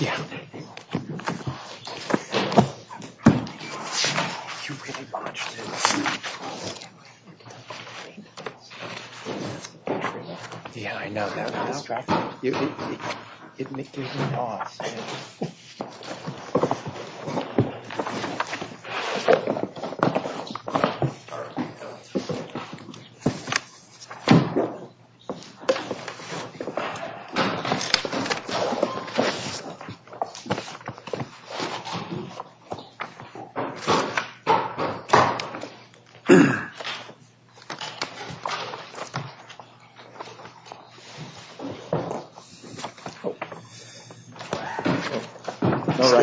Yeah. You really watched it. Yeah, I know that. No rush.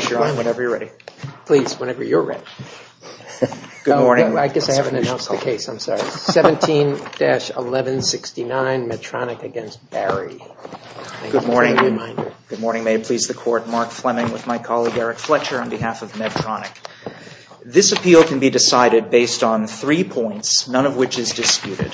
You're on whenever you're ready. Please, whenever you're ready. Good morning. I guess I haven't announced the case. I'm sorry. 17-1169, Medtronic v. Barry. Good morning. Good morning. May it please the Court. Mark Fleming with my colleague, Eric Fletcher, on behalf of Medtronic. This appeal can be decided based on three points, none of which is disputed.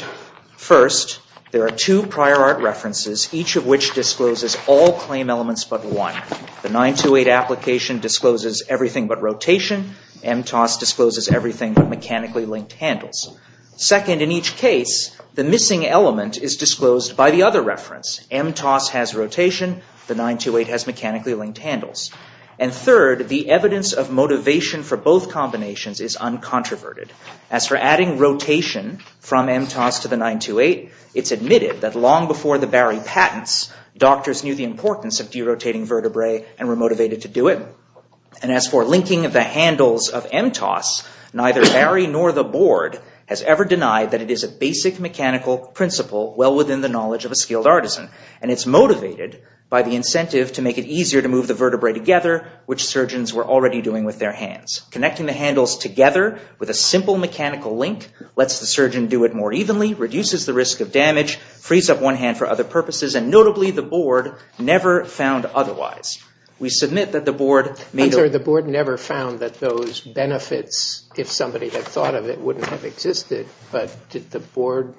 First, there are two prior art references, each of which discloses all claim elements but one. The 928 application discloses everything but rotation. MTOS discloses everything but mechanically linked handles. Second, in each case, the missing element is disclosed by the other reference. MTOS has rotation. The 928 has mechanically linked handles. And third, the evidence of motivation for both combinations is uncontroverted. As for adding rotation from MTOS to the 928, it's admitted that long before the Barry patents, doctors knew the importance of derotating vertebrae and were motivated to do it. And as for linking of the handles of MTOS, neither Barry nor the board has ever denied that it is a basic mechanical principle well within the knowledge of a skilled artisan. And it's motivated by the incentive to make it easier to move the vertebrae together, which surgeons were already doing with their hands. Connecting the handles together with a simple mechanical link lets the surgeon do it more evenly, reduces the risk of damage, frees up one hand for other purposes, and notably the board never found otherwise. We submit that the board made... I'm sorry, the board never found that those benefits, if somebody had thought of it, wouldn't have existed. But did the board...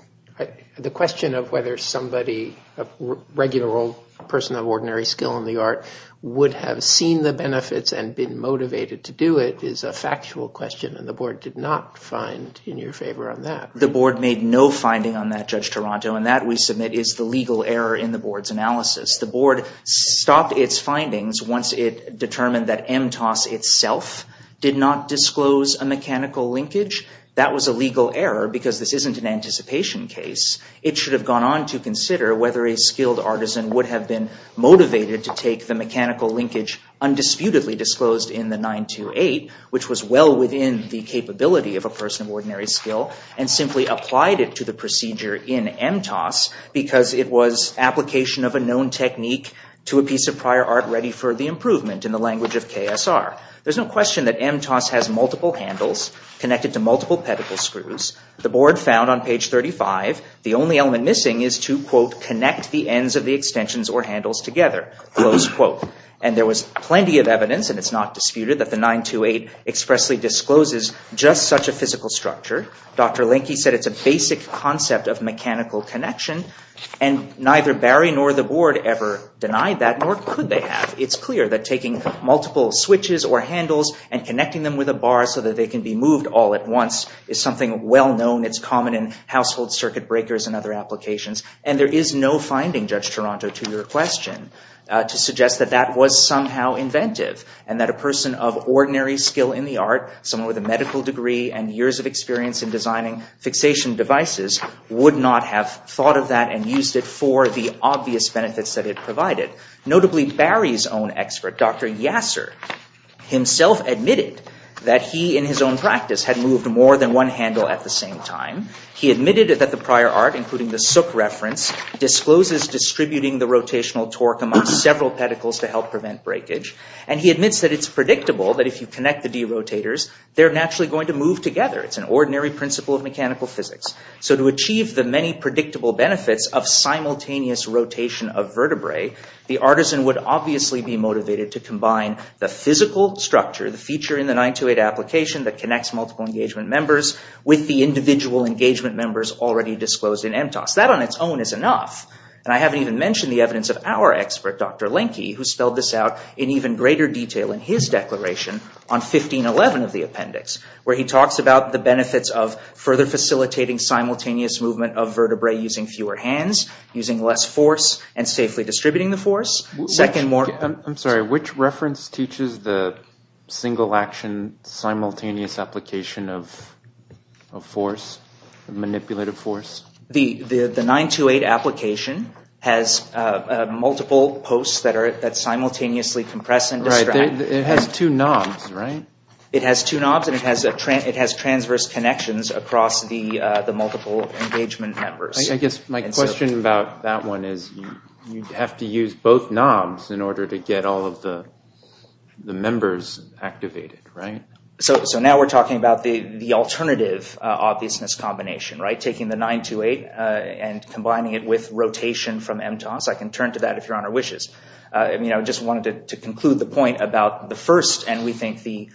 The question of whether somebody, a regular old person of ordinary skill in the art, would have seen the benefits and been motivated to do it is a factual question, and the board did not find in your favor on that. The board made no finding on that, Judge Toronto, and that, we submit, is the legal error in the board's analysis. The board stopped its findings once it determined that MTOS itself did not disclose a mechanical linkage. That was a legal error because this isn't an anticipation case. It should have gone on to consider whether a skilled artisan would have been motivated to take the mechanical linkage undisputedly disclosed in the 928, which was well within the capability of a person of ordinary skill, and simply applied it to the procedure in MTOS because it was application of a known technique to a piece of prior art ready for the improvement in the language of KSR. There's no question that MTOS has multiple handles connected to multiple pedicle screws. The board found on page 35, the only element missing is to, quote, connect the ends of the extensions or handles together, close quote. And there was plenty of evidence, and it's not disputed, that the 928 expressly discloses just such a physical structure. Dr. Linke said it's a basic concept of mechanical connection, and neither Barry nor the board ever denied that, nor could they have. It's clear that taking multiple switches or handles and connecting them with a bar so that they can be moved all at once is something well known. It's common in household circuit breakers and other applications. And there is no finding, Judge Toronto, to your question to suggest that that was somehow inventive and that a person of ordinary skill in the art, someone with a medical degree and years of experience in designing fixation devices, would not have thought of that and used it for the obvious benefits that it provided. Notably, Barry's own expert, Dr. Yasser, himself admitted that he, in his own practice, had moved more than one handle at the same time. He admitted that the prior art, including the Sook reference, discloses distributing the rotational torque among several pedicles to help prevent breakage. And he admits that it's predictable that if you connect the d-rotators, they're naturally going to move together. It's an ordinary principle of mechanical physics. So to achieve the many predictable benefits of simultaneous rotation of vertebrae, the artisan would obviously be motivated to combine the physical structure, the feature in the 928 application that connects multiple engagement members with the individual engagement members already disclosed in MTOS. That on its own is enough. And I haven't even mentioned the evidence of our expert, Dr. Lenke, who spelled this out in even greater detail in his declaration on 1511 of the appendix, where he talks about the benefits of further facilitating simultaneous movement of vertebrae using fewer hands, using less force, and safely distributing the force. Second more... I'm sorry, which reference teaches the single-action simultaneous application of force, manipulative force? The 928 application has multiple posts that simultaneously compress and distract. Right, it has two knobs, right? It has two knobs, and it has transverse connections across the multiple engagement members. I guess my question about that one is you'd have to use both knobs in order to get all of the members activated, right? So now we're talking about the alternative obviousness combination, right? Taking the 928 and combining it with rotation from MTOS. I can turn to that if Your Honor wishes. I just wanted to conclude the point about the first and we think the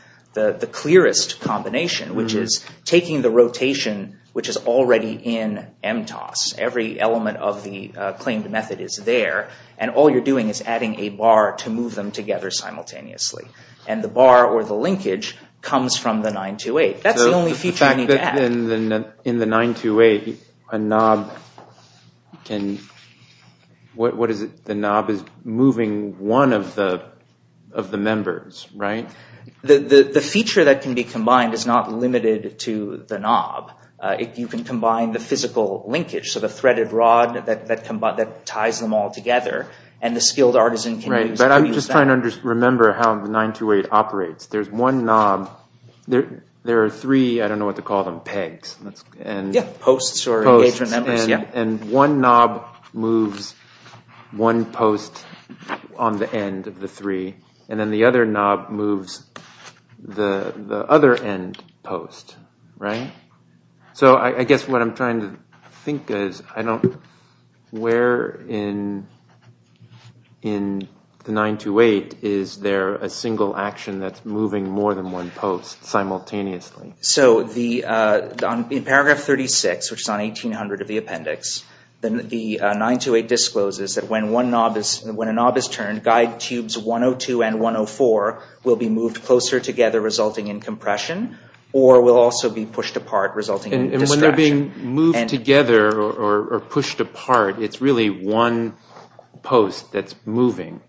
clearest combination, which is taking the rotation, which is already in MTOS. Every element of the claimed method is there, and all you're doing is adding a bar to move them together simultaneously. And the bar, or the linkage, comes from the 928. That's the only feature you need to add. In the 928, a knob can... What is it? The knob is moving one of the members, right? The feature that can be combined is not limited to the knob. You can combine the physical linkage, so the threaded rod that ties them all together, and the skilled artisan can use that. Right, but I'm just trying to remember how the 928 operates. There's one knob. There are three, I don't know what to call them, pegs. Yeah, posts or engagement members, yeah. And one knob moves one post on the end of the three, and then the other knob moves the other end post, right? So I guess what I'm trying to think is, where in the 928 is there a single action that's moving more than one post simultaneously? So in paragraph 36, which is on 1800 of the appendix, the 928 discloses that when a knob is turned, guide tubes 102 and 104 will be moved closer together, resulting in compression, or will also be pushed apart, resulting in distraction. And when they're being moved together or pushed apart, it's really one post that's moving,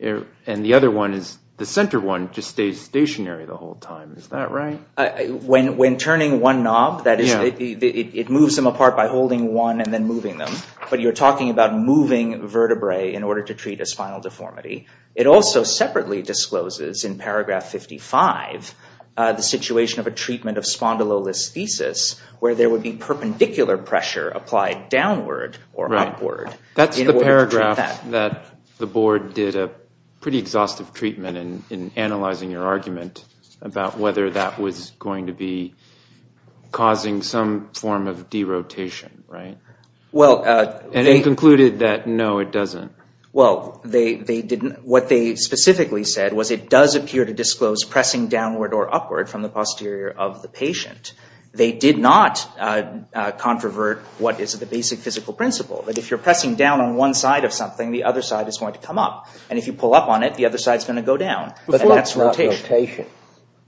and the other one is, the center one, just stays stationary the whole time. Is that right? When turning one knob, it moves them apart by holding one and then moving them, but you're talking about moving vertebrae in order to treat a spinal deformity. It also separately discloses in paragraph 55 the situation of a treatment of spondylolisthesis, where there would be perpendicular pressure applied downward or upward in order to treat that. That's the paragraph that the board did a pretty exhaustive treatment in analyzing your argument about whether that was going to be causing some form of derotation, right? And they concluded that, no, it doesn't. Well, what they specifically said was it does appear to disclose pressing downward or upward from the posterior of the patient. They did not controvert what is the basic physical principle, that if you're pressing down on one side of something, the other side is going to come up, and if you pull up on it, the other side's going to go down. But that's not rotation.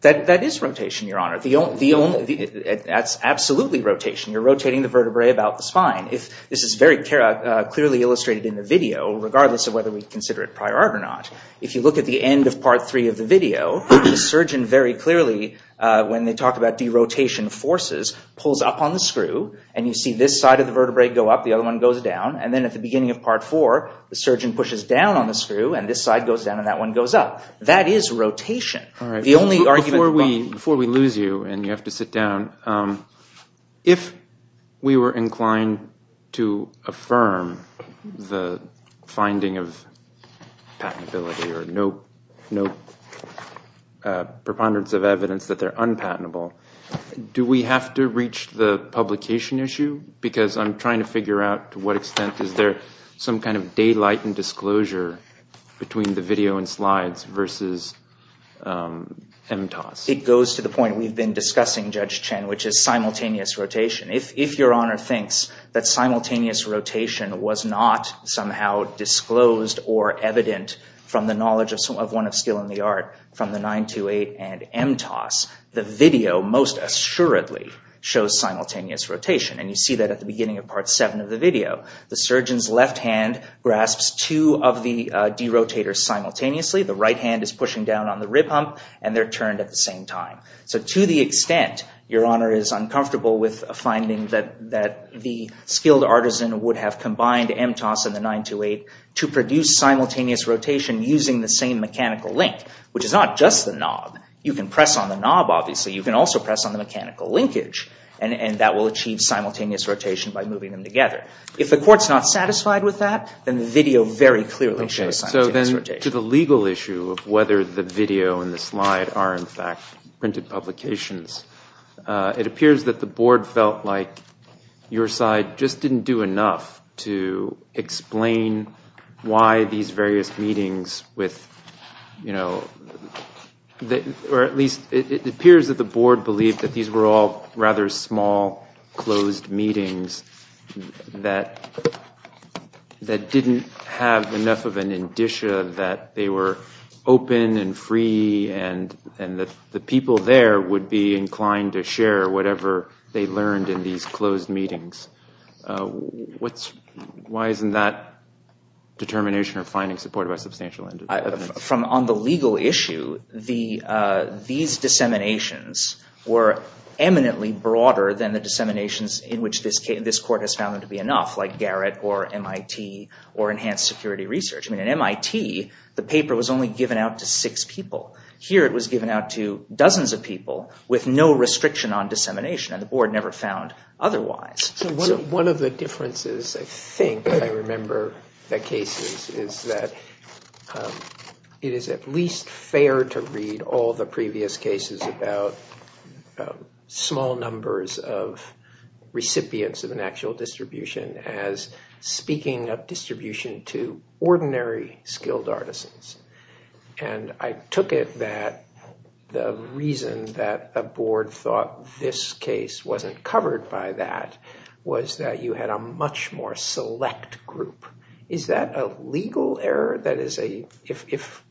That is rotation, Your Honor. That's absolutely rotation. You're rotating the vertebrae about the spine. This is very clearly illustrated in the video regardless of whether we consider it prior art or not. If you look at the end of Part 3 of the video, the surgeon very clearly, when they talk about derotation forces, pulls up on the screw, and you see this side of the vertebrae go up, the other one goes down, and then at the beginning of Part 4, the surgeon pushes down on the screw, and this side goes down and that one goes up. That is rotation. Before we lose you and you have to sit down, if we were inclined to affirm the finding of patentability or no preponderance of evidence that they're unpatentable, do we have to reach the publication issue? Because I'm trying to figure out to what extent is there some kind of daylight and disclosure between the video and slides versus MTOS. It goes to the point we've been discussing, Judge Chen, which is simultaneous rotation. If Your Honor thinks that simultaneous rotation was not somehow disclosed or evident from the knowledge of one of skill and the art from the 928 and MTOS, the video most assuredly shows simultaneous rotation, and you see that at the beginning of Part 7 of the video. The surgeon's left hand grasps two of the derotators simultaneously, the right hand is pushing down on the rib hump, and they're turned at the same time. So to the extent Your Honor is uncomfortable with a finding that the skilled artisan would have combined MTOS and the 928 to produce simultaneous rotation using the same mechanical link, which is not just the knob. You can press on the knob, obviously. You can also press on the mechanical linkage, and that will achieve simultaneous rotation by moving them together. If the court's not satisfied with that, then the video very clearly shows simultaneous rotation. And so then to the legal issue of whether the video and the slide are in fact printed publications, it appears that the board felt like your side just didn't do enough to explain why these various meetings with, you know, or at least it appears that the board believed that these were all rather small, closed meetings that didn't have enough of an indicia that they were open and free and that the people there would be inclined to share whatever they learned in these closed meetings. Why isn't that determination or finding supported by substantial evidence? On the legal issue, these disseminations were eminently broader than the disseminations in which this court has found them to be enough, like Garrett or MIT or Enhanced Security Research. I mean, at MIT, the paper was only given out to six people. Here it was given out to dozens of people with no restriction on dissemination, and the board never found otherwise. So one of the differences, I think, I remember the cases, is that it is at least fair to read all the previous cases about small numbers of recipients of an actual distribution as speaking of distribution to ordinary skilled artisans. And I took it that the reason that a board thought this case wasn't covered by that was that you had a much more select group. Is that a legal error? That is, if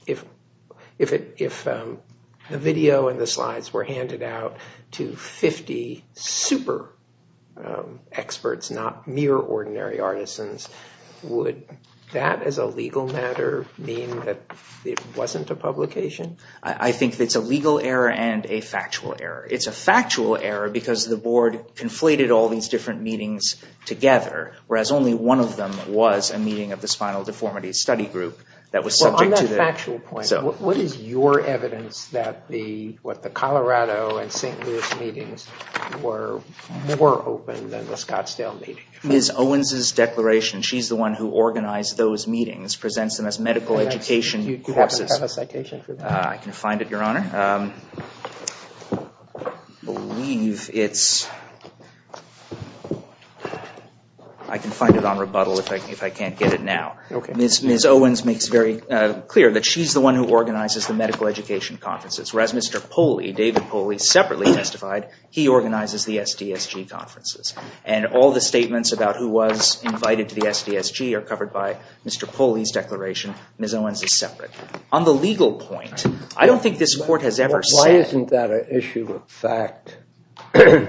the video and the slides were handed out to 50 super experts, not mere ordinary artisans, would that as a legal matter mean that it wasn't a publication? I think it's a legal error and a factual error. It's a factual error because the board conflated all these different meetings together, whereas only one of them was a meeting of the Spinal Deformity Study Group that was subject to the... On that factual point, what is your evidence that the Colorado and St. Louis meetings were more open than the Scottsdale meeting? Ms. Owens' declaration, she's the one who organized those meetings, presents them as medical education courses. Do you have a citation for that? I can find it, Your Honor. I believe it's... I can find it on rebuttal if I can't get it now. Ms. Owens makes it very clear that she's the one who organizes the medical education conferences, whereas Mr. Poli, David Poli separately testified he organizes the SDSG conferences, and all the statements about who was invited to the SDSG are covered by Mr. Poli's declaration. Ms. Owens is separate. On the legal point, I don't think this court has ever said... Why isn't that an issue of fact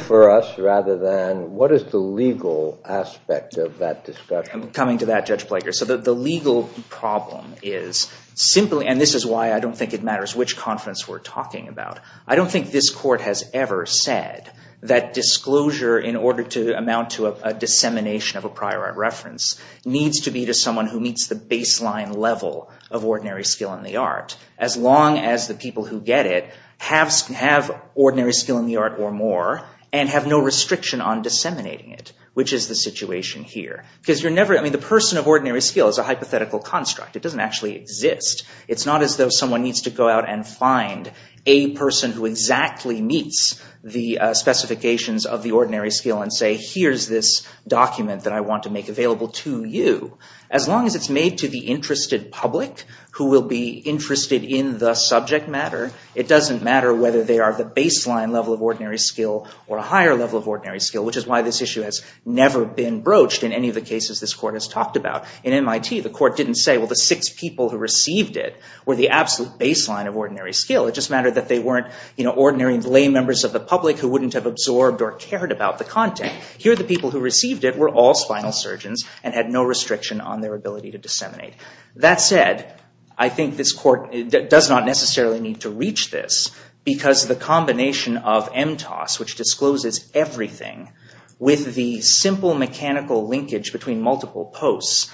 for us rather than what is the legal aspect of that discussion? Coming to that, Judge Plager. So the legal problem is simply... And this is why I don't think it matters which conference we're talking about. I don't think this court has ever said that disclosure, in order to amount to a dissemination of a prior art reference, needs to be to someone who meets the baseline level of ordinary skill in the art, as long as the people who get it have ordinary skill in the art or more and have no restriction on disseminating it, which is the situation here. Because you're never... I mean, the person of ordinary skill is a hypothetical construct. It doesn't actually exist. It's not as though someone needs to go out and find a person who exactly meets the specifications of the ordinary skill and say, here's this document that I want to make available to you. As long as it's made to the interested public who will be interested in the subject matter, it doesn't matter whether they are the baseline level of ordinary skill or a higher level of ordinary skill, which is why this issue has never been broached in any of the cases this court has talked about. In MIT, the court didn't say, well, the six people who received it were the absolute baseline of ordinary skill. It just mattered that they weren't, you know, ordinary lay members of the public who wouldn't have absorbed or cared about the content. Here, the people who received it were all spinal surgeons and had no restriction on their ability to disseminate. That said, I think this court does not necessarily need to reach this because the combination of MTOS, which discloses everything, with the simple mechanical linkage between multiple posts,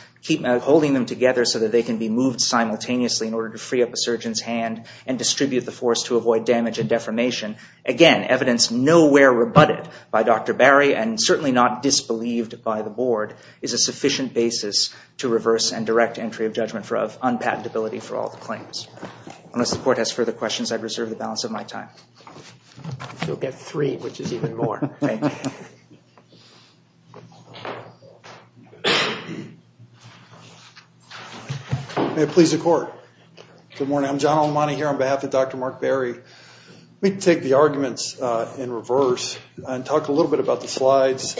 holding them together so that they can be moved simultaneously in order to free up a surgeon's hand and distribute the force to avoid damage and defamation, again, evidence nowhere rebutted by Dr. Barry and certainly not disbelieved by the board, is a sufficient basis to reverse and direct entry of judgment of unpatentability for all the claims. Unless the court has further questions, I reserve the balance of my time. You'll get three, which is even more. Thank you. May it please the court. Good morning. I'm John Almonte here on behalf of Dr. Mark Barry. Let me take the arguments in reverse and talk a little bit about the slides.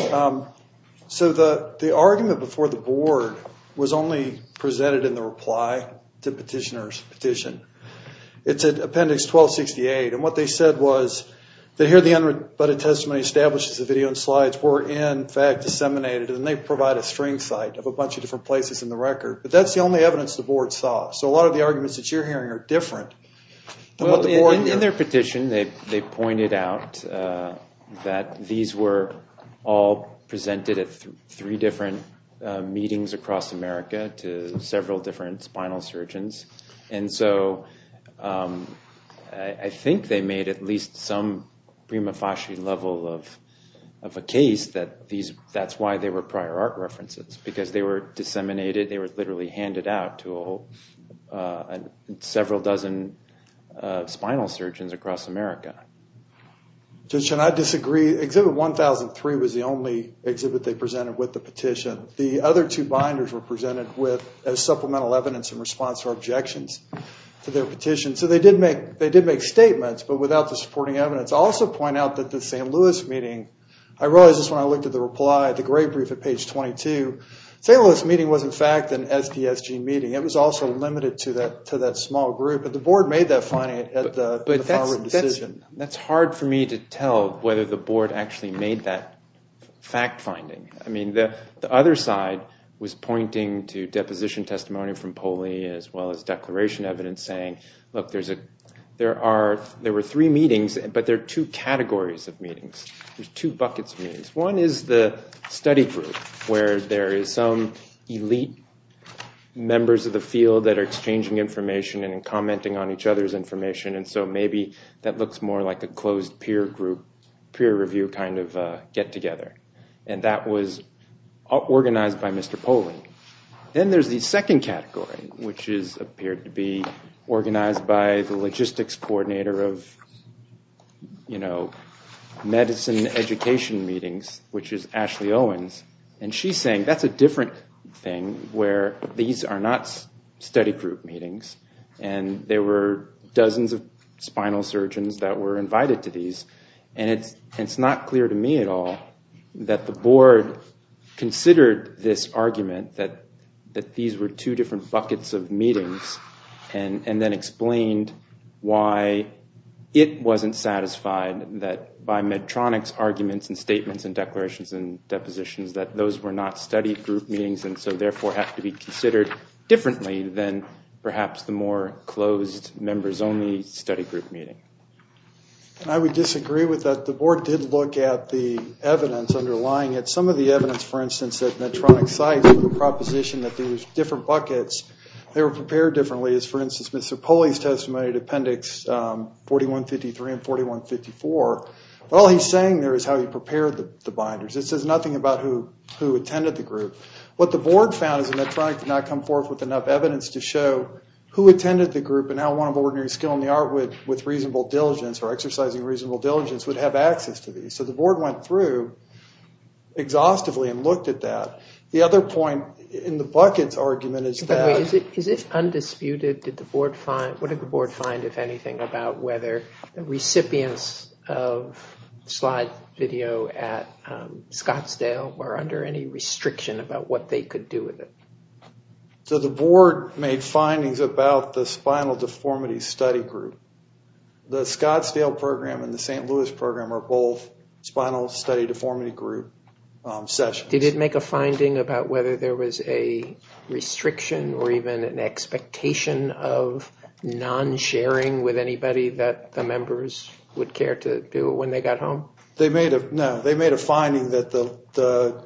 So the argument before the board was only presented in the reply to petitioner's petition. It's in Appendix 1268 and what they said was that here the unrebutted testimony establishes the video and slides were in fact disseminated and they provide a string site of a bunch of different places in the record, but that's the only evidence the board saw. So a lot of the arguments that you're hearing are different than what the board heard. In their petition, they pointed out that these were all presented at three different meetings across America to several different spinal surgeons and so I think they made at least some prima facie level of a case that that's why they were prior art references because they were disseminated, they were literally handed out to several dozen spinal surgeons across America. Judge Chen, I disagree. Exhibit 1003 was the only exhibit they presented with the petition. The other two binders were presented with as supplemental evidence in response to objections to their petition. So they did make statements, but without the supporting evidence. I'll also point out that the St. Louis meeting, I realized this when I looked at the reply, the great brief at page 22, St. Louis meeting was in fact an SDSG meeting. It was also limited to that small group, but the board made that finding at the final decision. That's hard for me to tell whether the board actually made that fact finding. I mean, the other side was pointing to deposition testimony from Poley as well as declaration evidence saying, look, there were three meetings, but there are two categories of meetings. There's two buckets of meetings. One is the study group where there is some elite members of the field that are exchanging information and commenting on each other's information. And so maybe that looks more like a closed peer review kind of get together. And that was organized by Mr. Poley. Then there's the second category, which appeared to be organized by the logistics coordinator of medicine education meetings, which is Ashley Owens. And she's saying that's a different thing where these are not study group meetings and there were dozens of spinal surgeons that were invited to these. And it's not clear to me at all that the board considered this argument that these were two different buckets of meetings and then explained why it wasn't satisfied that by Medtronic's arguments and statements and declarations and depositions that those were not study group meetings and so therefore have to be considered differently than perhaps the more closed members-only study group meeting. And I would disagree with that. The board did look at the evidence underlying it. Some of the evidence, for instance, that Medtronic cites with the proposition that these were different buckets, they were prepared differently. For instance, Mr. Poley's testimony in appendix 4153 and 4154, all he's saying there is how he prepared the binders. It says nothing about who attended the group. What the board found is that Medtronic did not come forth with enough evidence to show who attended the group and how one of ordinary skill in the art with reasonable diligence or exercising reasonable diligence would have access to these. So the board went through exhaustively and looked at that. The other point in the buckets argument is that... Is it undisputed? What did the board find, if anything, about whether the recipients of slide video at Scottsdale were under any restriction about what they could do with it? So the board made findings about the Spinal Deformity Study Group. The Scottsdale program and the St. Louis program are both Spinal Study Deformity Group sessions. Did it make a finding about whether there was a restriction or even an expectation of non-sharing with anybody that the members would care to do when they got home? No. They made a finding that the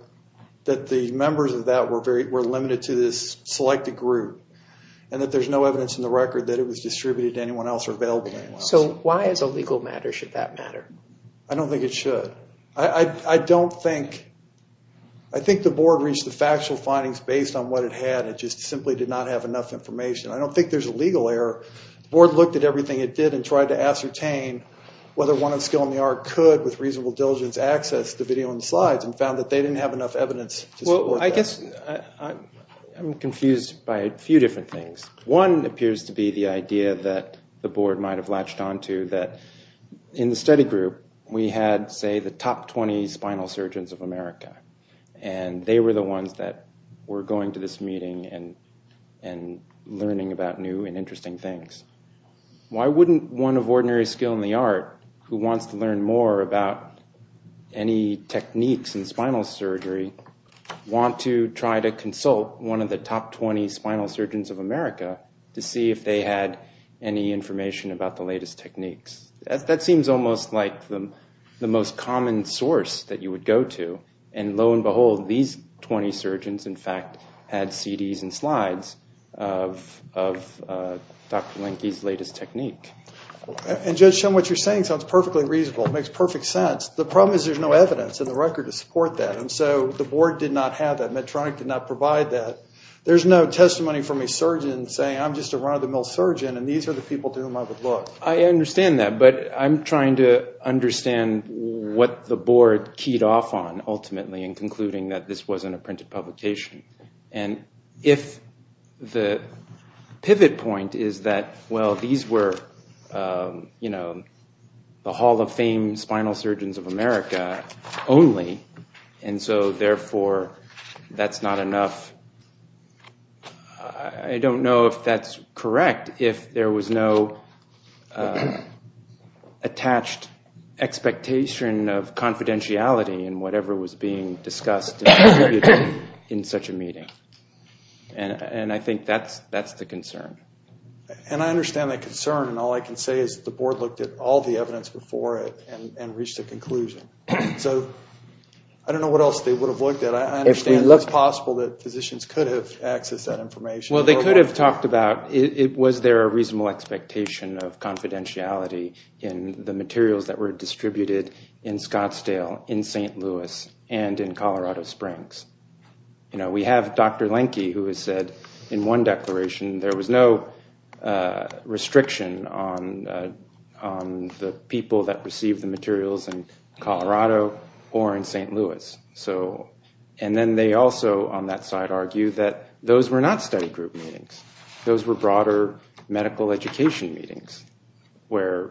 members of that were limited to this selected group and that there's no evidence in the record that it was distributed to anyone else or available to anyone else. So why, as a legal matter, should that matter? I don't think it should. I don't think... I think the board reached the factual findings based on what it had. It just simply did not have enough information. I don't think there's a legal error. The board looked at everything it did and tried to ascertain whether one of skill in the art could, with reasonable diligence, access the video and the slides and found that they didn't have enough evidence to support that. I guess I'm confused by a few different things. One appears to be the idea that the board might have latched onto that in the study group we had, say, the top 20 spinal surgeons of America and they were the ones that were going to this meeting and learning about new and interesting things. Why wouldn't one of ordinary skill in the art who wants to learn more about any techniques in spinal surgery want to try to consult one of the top 20 spinal surgeons of America to see if they had any information about the latest techniques? That seems almost like the most common source that you would go to. And lo and behold, these 20 surgeons, in fact, had CDs and slides of Dr. Lenke's latest technique. And Judge Shum, what you're saying sounds perfectly reasonable. It makes perfect sense. The problem is there's no evidence in the record to support that. And so the board did not have that. Medtronic did not provide that. There's no testimony from a surgeon saying, I'm just a run-of-the-mill surgeon and these are the people to whom I would look. I understand that, but I'm trying to understand what the board keyed off on ultimately in concluding that this wasn't a printed publication. And if the pivot point is that, well, these were the Hall of Fame spinal surgeons of America only. And so, therefore, that's not enough. I don't know if that's correct, if there was no attached expectation of confidentiality in whatever was being discussed in such a meeting. And I think that's the concern. And I understand that concern. And all I can say is the board looked at all the evidence before it and reached a conclusion. So I don't know what else they would have looked at. I understand it's possible that physicians could have accessed that information. Well, they could have talked about, was there a reasonable expectation of confidentiality in the materials that were distributed in Scottsdale, in St. Louis, and in Colorado Springs. We have Dr. Lenke who has said in one declaration there was no restriction on the people that received the materials in Colorado or in St. Louis. And then they also, on that side, argued that those were not study group meetings. Those were broader medical education meetings where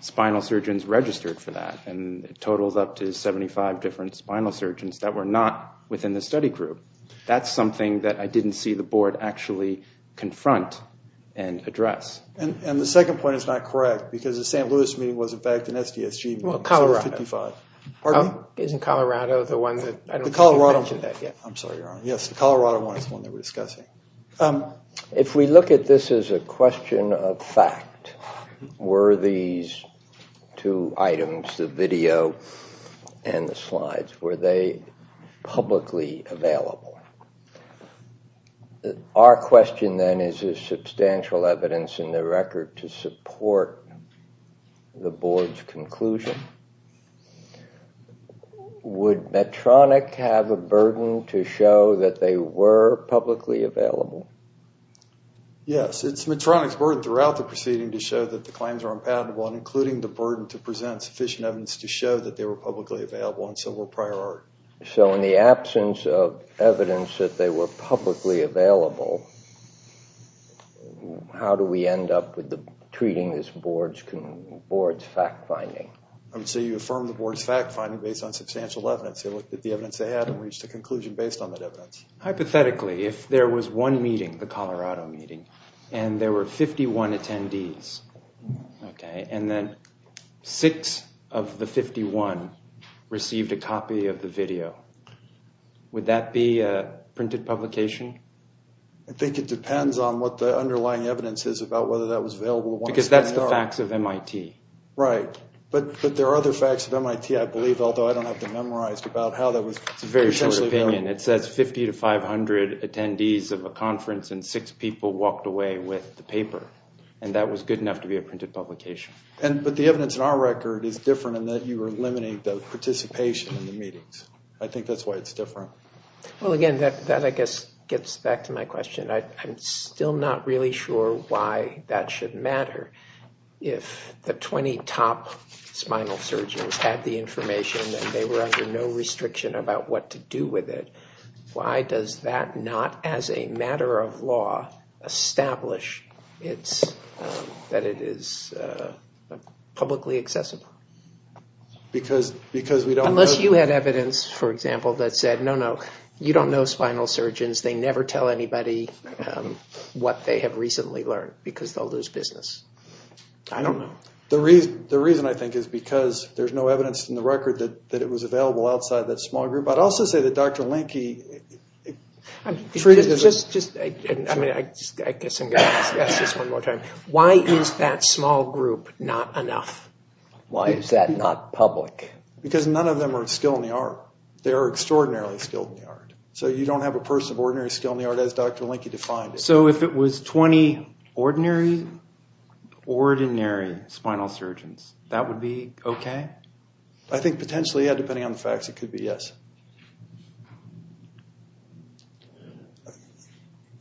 spinal surgeons registered for that. And it totals up to 75 different spinal surgeons that were not within the study group. That's something that I didn't see the board actually confront and address. And the second point is not correct because the St. Louis meeting was in fact an SDSG meeting. Well, Colorado. So it was 55. Isn't Colorado the one that, I don't think you mentioned that yet. I'm sorry, Your Honor. Yes, the Colorado one is the one that we're discussing. If we look at this as a question of fact, were these two items, the video and the slides, were they publicly available? Our question then is is substantial evidence in the record to support the board's conclusion. Would Medtronic have a burden to show that they were publicly available? Yes. It's Medtronic's burden throughout the proceeding to show that the claims are unpalatable and including the burden to present sufficient evidence to show that they were publicly available and so were prior art. So in the absence of evidence that they were publicly available, how do we end up treating this board's fact-finding? So you affirm the board's fact-finding based on substantial evidence. They looked at the evidence they had and reached a conclusion based on that evidence. Hypothetically, if there was one meeting, the Colorado meeting, and there were 51 attendees, okay, and then six of the 51 received a copy of the video, would that be a printed publication? I think it depends on what the underlying evidence is about whether that was available or not. Because that's the facts of MIT. Right. But there are other facts of MIT, I believe, although I don't have them memorized about how that was potentially available. It's a very short opinion. It says 50 to 500 attendees of a conference and six people walked away with the paper, and that was good enough to be a printed publication. But the evidence in our record is different in that you eliminate the participation in the meetings. I think that's why it's different. Well, again, that, I guess, gets back to my question. I'm still not really sure why that should matter. If the 20 top spinal surgeons had the information and they were under no restriction about what to do with it, why does that not, as a matter of law, establish that it is publicly accessible? Because we don't know. Unless you had evidence, for example, that said, no, no, you don't know spinal surgeons. They never tell anybody what they have recently learned because they'll lose business. I don't know. The reason, I think, is because there's no evidence in the record that it was available outside that small group. I'd also say that Dr. Linke treated it as a... Just, I mean, I guess I'm going to ask this one more time. Why is that small group not enough? Why is that not public? Because none of them are skilled in the art. They are extraordinarily skilled in the art. So you don't have a person of ordinary skill in the art, as Dr. Linke defined it. So if it was 20 ordinary, ordinary spinal surgeons, that would be okay? I think potentially, yeah, depending on the facts, it could be yes.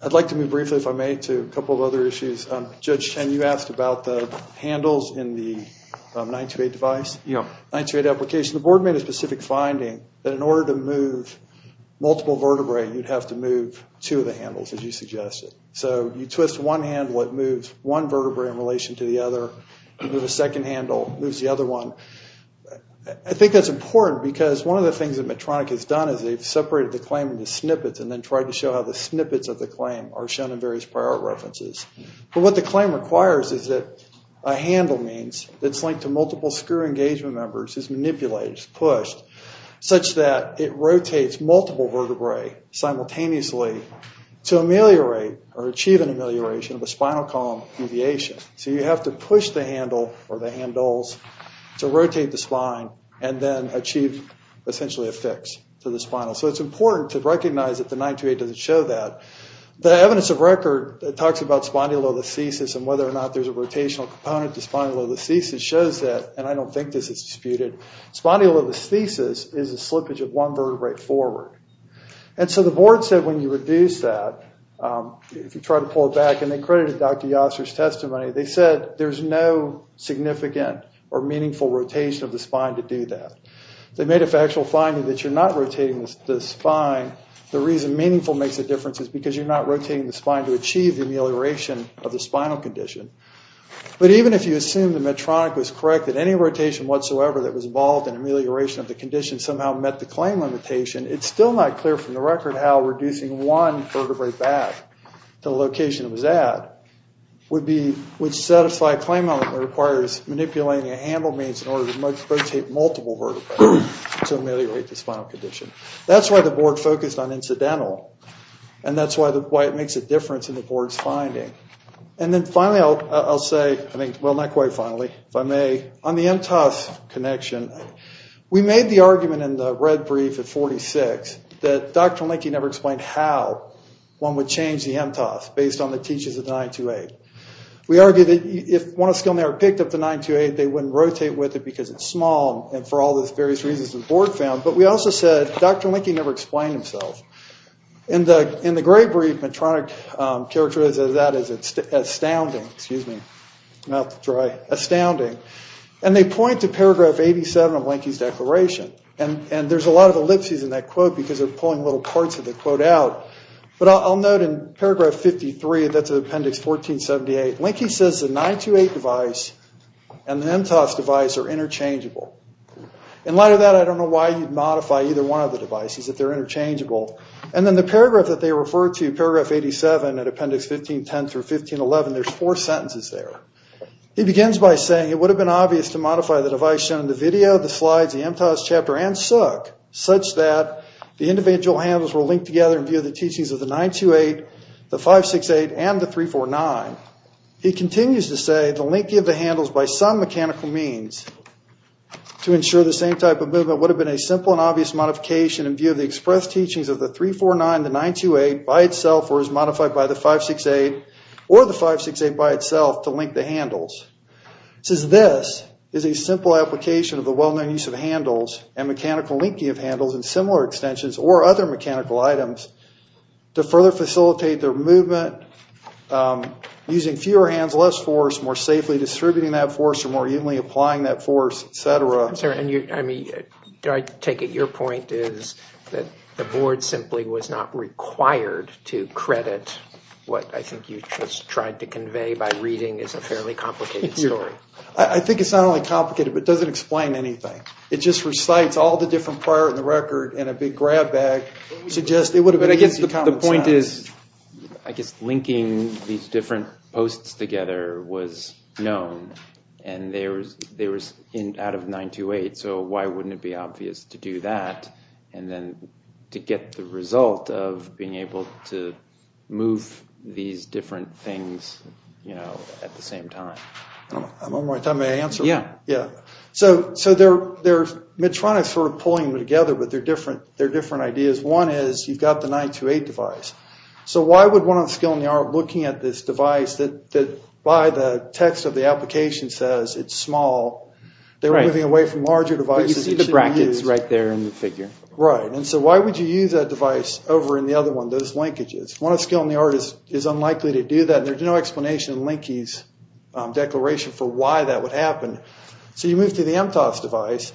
I'd like to move briefly, if I may, to a couple of other issues. Judge Chen, you asked about the handles in the 928 device, 928 application. The board made a specific finding that in order to move multiple vertebrae, you'd have to move two of the handles, as you suggested. So you twist one handle, it moves one vertebrae in relation to the other. You move a second handle, it moves the other one. I think that's important because one of the things that Medtronic has done is they've separated the claim into snippets and then tried to show how the snippets of the claim are shown in various prior art references. But what the claim requires is that a handle means, that's linked to multiple screw engagement members, is manipulated, is pushed, such that it rotates multiple vertebrae simultaneously to ameliorate or achieve an amelioration of a spinal column deviation. So you have to push the handle or the handles to rotate the spine and then achieve essentially a fix to the spinal. So it's important to recognize that the 928 doesn't show that. The evidence of record that talks about spondylolisthesis and whether or not there's a rotational component to spondylolisthesis shows that, and I don't think this is disputed, spondylolisthesis is a slippage of one vertebrae forward. And so the board said when you reduce that, if you try to pull it back, and they credited Dr. Yoster's testimony, they said there's no significant or meaningful rotation of the spine to do that. They made a factual finding that you're not rotating the spine. The reason meaningful makes a difference is because you're not rotating the spine to achieve the amelioration of the spinal condition. But even if you assume the Medtronic was correct, that any rotation whatsoever that was involved in amelioration of the condition somehow met the claim limitation, it's still not clear from the record how reducing one vertebrae back to the location it was at would satisfy a claim element that requires manipulating a handle means in order to rotate multiple vertebrae to ameliorate the spinal condition. That's why the board focused on incidental, and that's why it makes a difference in the board's finding. And then finally I'll say, well, not quite finally, if I may, on the MTOS connection, we made the argument in the red brief at 46 that Dr. Linke never explained how one would change the MTOS based on the teaches of 928. We argued that if one of us still never picked up the 928, they wouldn't rotate with it because it's small, and for all those various reasons the board found. But we also said Dr. Linke never explained himself. In the gray brief, Medtronic characterized that as astounding. Mouth dry. Astounding. And they point to paragraph 87 of Linke's declaration, and there's a lot of ellipses in that quote because they're pulling little parts of the quote out. But I'll note in paragraph 53, that's in appendix 1478, Linke says the 928 device and the MTOS device are interchangeable. In light of that, I don't know why you'd modify either one of the devices if they're interchangeable. And then the paragraph that they refer to, paragraph 87, at appendix 1510 through 1511, there's four sentences there. He begins by saying, it would have been obvious to modify the device shown in the video, the slides, the MTOS chapter, and Sook, such that the individual handles were linked together in view of the teachings of the 928, the 568, and the 349. He continues to say, the Linke of the handles, by some mechanical means, to ensure the same type of movement, would have been a simple and obvious modification in view of the express teachings of the 349, the 928, by itself or as modified by the 568, or the 568 by itself, to link the handles. He says, this is a simple application of the well-known use of handles and mechanical linking of handles and similar extensions or other mechanical items to further facilitate their movement, using fewer hands, less force, more safely distributing that force or more evenly applying that force, et cetera. Do I take it your point is that the board simply was not required to credit what I think you just tried to convey by reading as a fairly complicated story? I think it's not only complicated, but it doesn't explain anything. It just recites all the different parts of the record in a big grab bag to suggest it would have been easy to compensate. The point is, I guess, linking these different posts together was known and they were out of 928. So why wouldn't it be obvious to do that and then to get the result of being able to move these different things at the same time? I don't know. I'm on my time. May I answer? Yeah. Yeah. So they're Medtronic sort of pulling them together, but they're different ideas. One is, you've got the 928 device. So why would one of the skill in the art looking at this device that by the text of the application says it's small, they were moving away from larger devices. But you see the brackets right there in the figure. Right. And so why would you use that device over in the other one, those linkages? One of the skill in the art is unlikely to do that, and there's no explanation in Linke's declaration for why that would happen. So you move to the MTOS device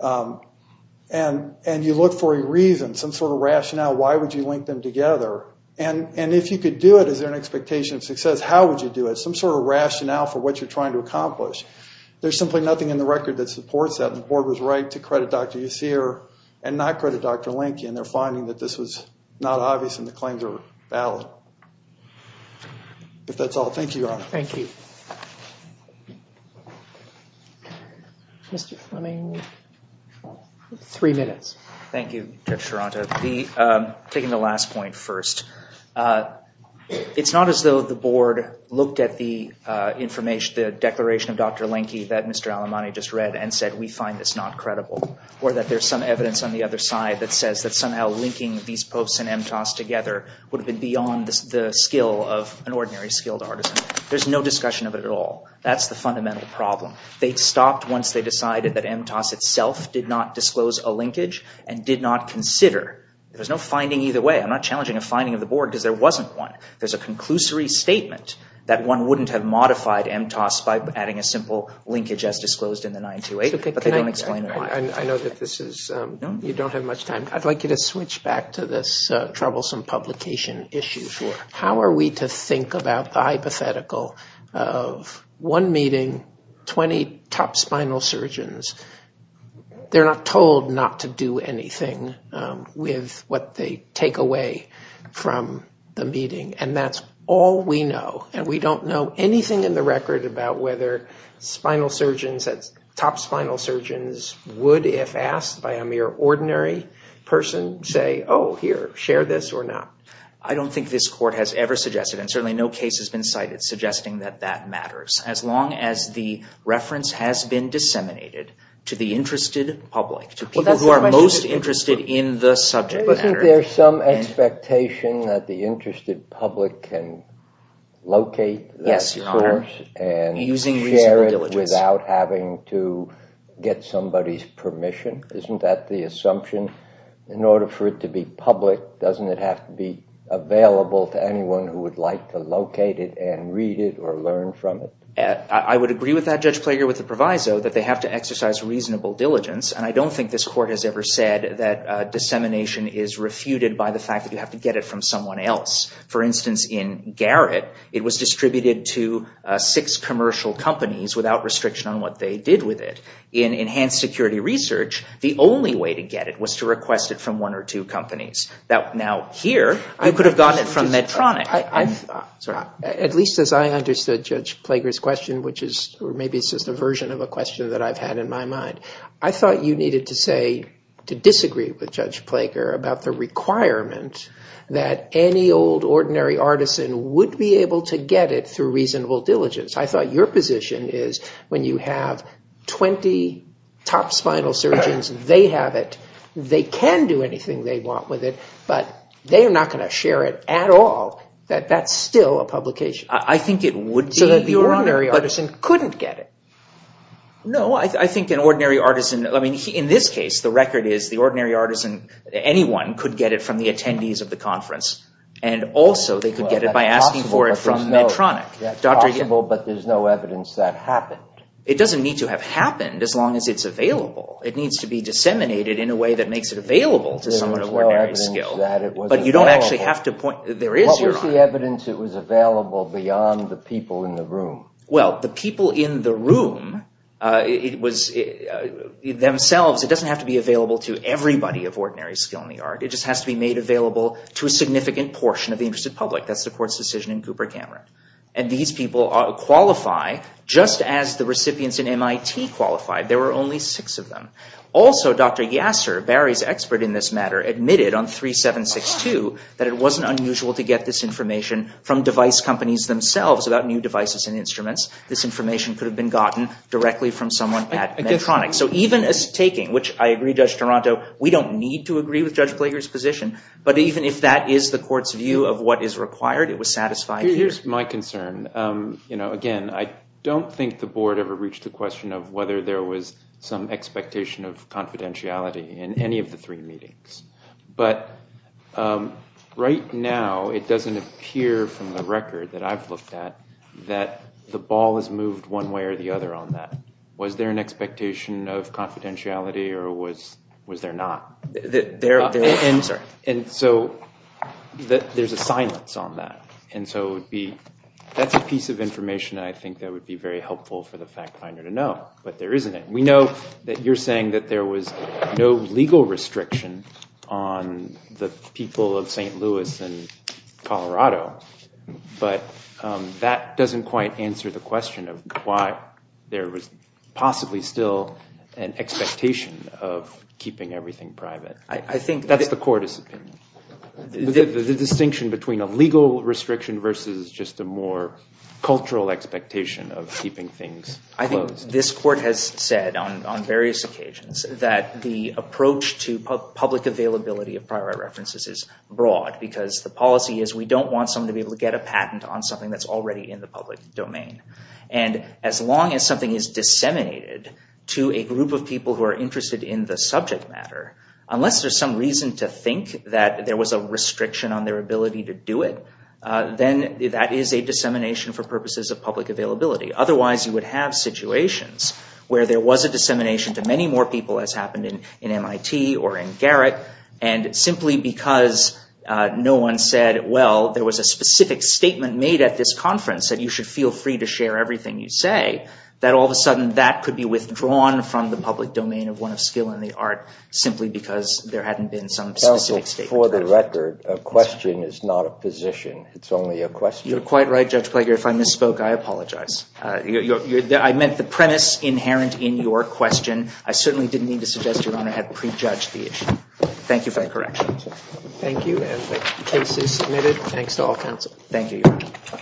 and you look for a reason, some sort of rationale, why would you link them together. And if you could do it, is there an expectation of success? If not, how would you do it? Some sort of rationale for what you're trying to accomplish. There's simply nothing in the record that supports that, and the board was right to credit Dr. Usir and not credit Dr. Linke, and they're finding that this was not obvious and the claims are valid. But that's all. Thank you, Your Honor. Thank you. Mr. Fleming, three minutes. Thank you, Judge Charanta. Taking the last point first. It's not as though the board looked at the declaration of Dr. Linke that Mr. Alemani just read and said, we find this not credible or that there's some evidence on the other side that says that somehow linking these posts and MTOS together would have been beyond the skill of an ordinary skilled artisan. There's no discussion of it at all. That's the fundamental problem. They stopped once they decided that MTOS itself did not disclose a linkage and did not consider. There's no finding either way. I'm not challenging a finding of the board because there wasn't one. There's a conclusory statement that one wouldn't have modified MTOS by adding a simple linkage as disclosed in the 928, but they don't explain it. I know that you don't have much time. I'd like you to switch back to this troublesome publication issue. How are we to think about the hypothetical of one meeting, 20 top spinal surgeons, they're not told not to do anything with what they take away from the meeting, and that's all we know, and we don't know anything in the record about whether top spinal surgeons would, if asked by a mere ordinary person, say, oh, here, share this or not. I don't think this court has ever suggested, as long as the reference has been disseminated to the interested public, to people who are most interested in the subject matter. Isn't there some expectation that the interested public can locate that course and share it without having to get somebody's permission? Isn't that the assumption? In order for it to be public, doesn't it have to be available to anyone who would like to locate it and read it or learn from it? I would agree with that, Judge Plager, with the proviso, that they have to exercise reasonable diligence, and I don't think this court has ever said that dissemination is refuted by the fact that you have to get it from someone else. For instance, in Garrett, it was distributed to six commercial companies without restriction on what they did with it. In Enhanced Security Research, the only way to get it was to request it from one or two companies. Now, here, you could have gotten it from Medtronic. At least as I understood Judge Plager's question, which is maybe just a version of a question that I've had in my mind, I thought you needed to say, to disagree with Judge Plager, about the requirement that any old ordinary artisan would be able to get it through reasonable diligence. I thought your position is when you have 20 top spinal surgeons, they have it, they can do anything they want with it, but they're not going to share it at all, that that's still a publication. I think it would be. So that the ordinary artisan couldn't get it. No, I think an ordinary artisan, I mean, in this case, the record is the ordinary artisan, anyone, could get it from the attendees of the conference, and also they could get it by asking for it from Medtronic. That's possible, but there's no evidence that happened. It doesn't need to have happened, as long as it's available. It needs to be disseminated in a way that makes it available to someone of ordinary skill. There's no evidence that it was available. But you don't actually have to point, there is your argument. What was the evidence that was available beyond the people in the room? Well, the people in the room, it was, themselves, it doesn't have to be available to everybody of ordinary skill in the art. It just has to be made available to a significant portion of the interested public. That's the court's decision in Cooper Cameron. And these people qualify, just as the recipients in MIT qualified. There were only six of them. Also, Dr. Yasser, Barry's expert in this matter, admitted on 3762 that it wasn't unusual to get this information from device companies, themselves, about new devices and instruments. This information could have been gotten directly from someone at Medtronic. So even a taking, which I agree, Judge Toronto, we don't need to agree with Judge Plager's position, but even if that is the court's view of what is required, it was satisfied here. Again, I don't think the board ever reached the question of whether there was some expectation of confidentiality in any of the three meetings. But right now, it doesn't appear from the record that I've looked at that the ball has moved one way or the other on that. Was there an expectation of confidentiality, or was there not? There's a silence on that. And so that's a piece of information, I think, that would be very helpful for the fact finder to know. But there isn't it. We know that you're saying that there was no legal restriction on the people of St. Louis and Colorado, but that doesn't quite answer the question of why there was possibly still an expectation of keeping everything private. That's the court's opinion. The distinction between a legal restriction versus just a more cultural expectation of keeping things closed. I think this court has said on various occasions that the approach to public availability of prior references is broad because the policy is we don't want someone to be able to get a patent on something that's already in the public domain. And as long as something is disseminated to a group of people who are interested in the subject matter, unless there's some reason to think that there was a restriction on their ability to do it, then that is a dissemination for purposes of public availability. Otherwise, you would have situations where there was a dissemination to many more people, as happened in MIT or in Garrett, and simply because no one said, well, there was a specific statement made at this conference that you should feel free to share everything you say, that all of a sudden that could be withdrawn from the public domain of one of skill and the art simply because there hadn't been some specific statement. For the record, a question is not a position. It's only a question. You're quite right, Judge Plager. If I misspoke, I apologize. I meant the premise inherent in your question. I certainly didn't mean to suggest Your Honor had prejudged the issue. Thank you for that correction. Thank you, and the case is submitted. Thanks to all counsel. Thank you, Your Honor.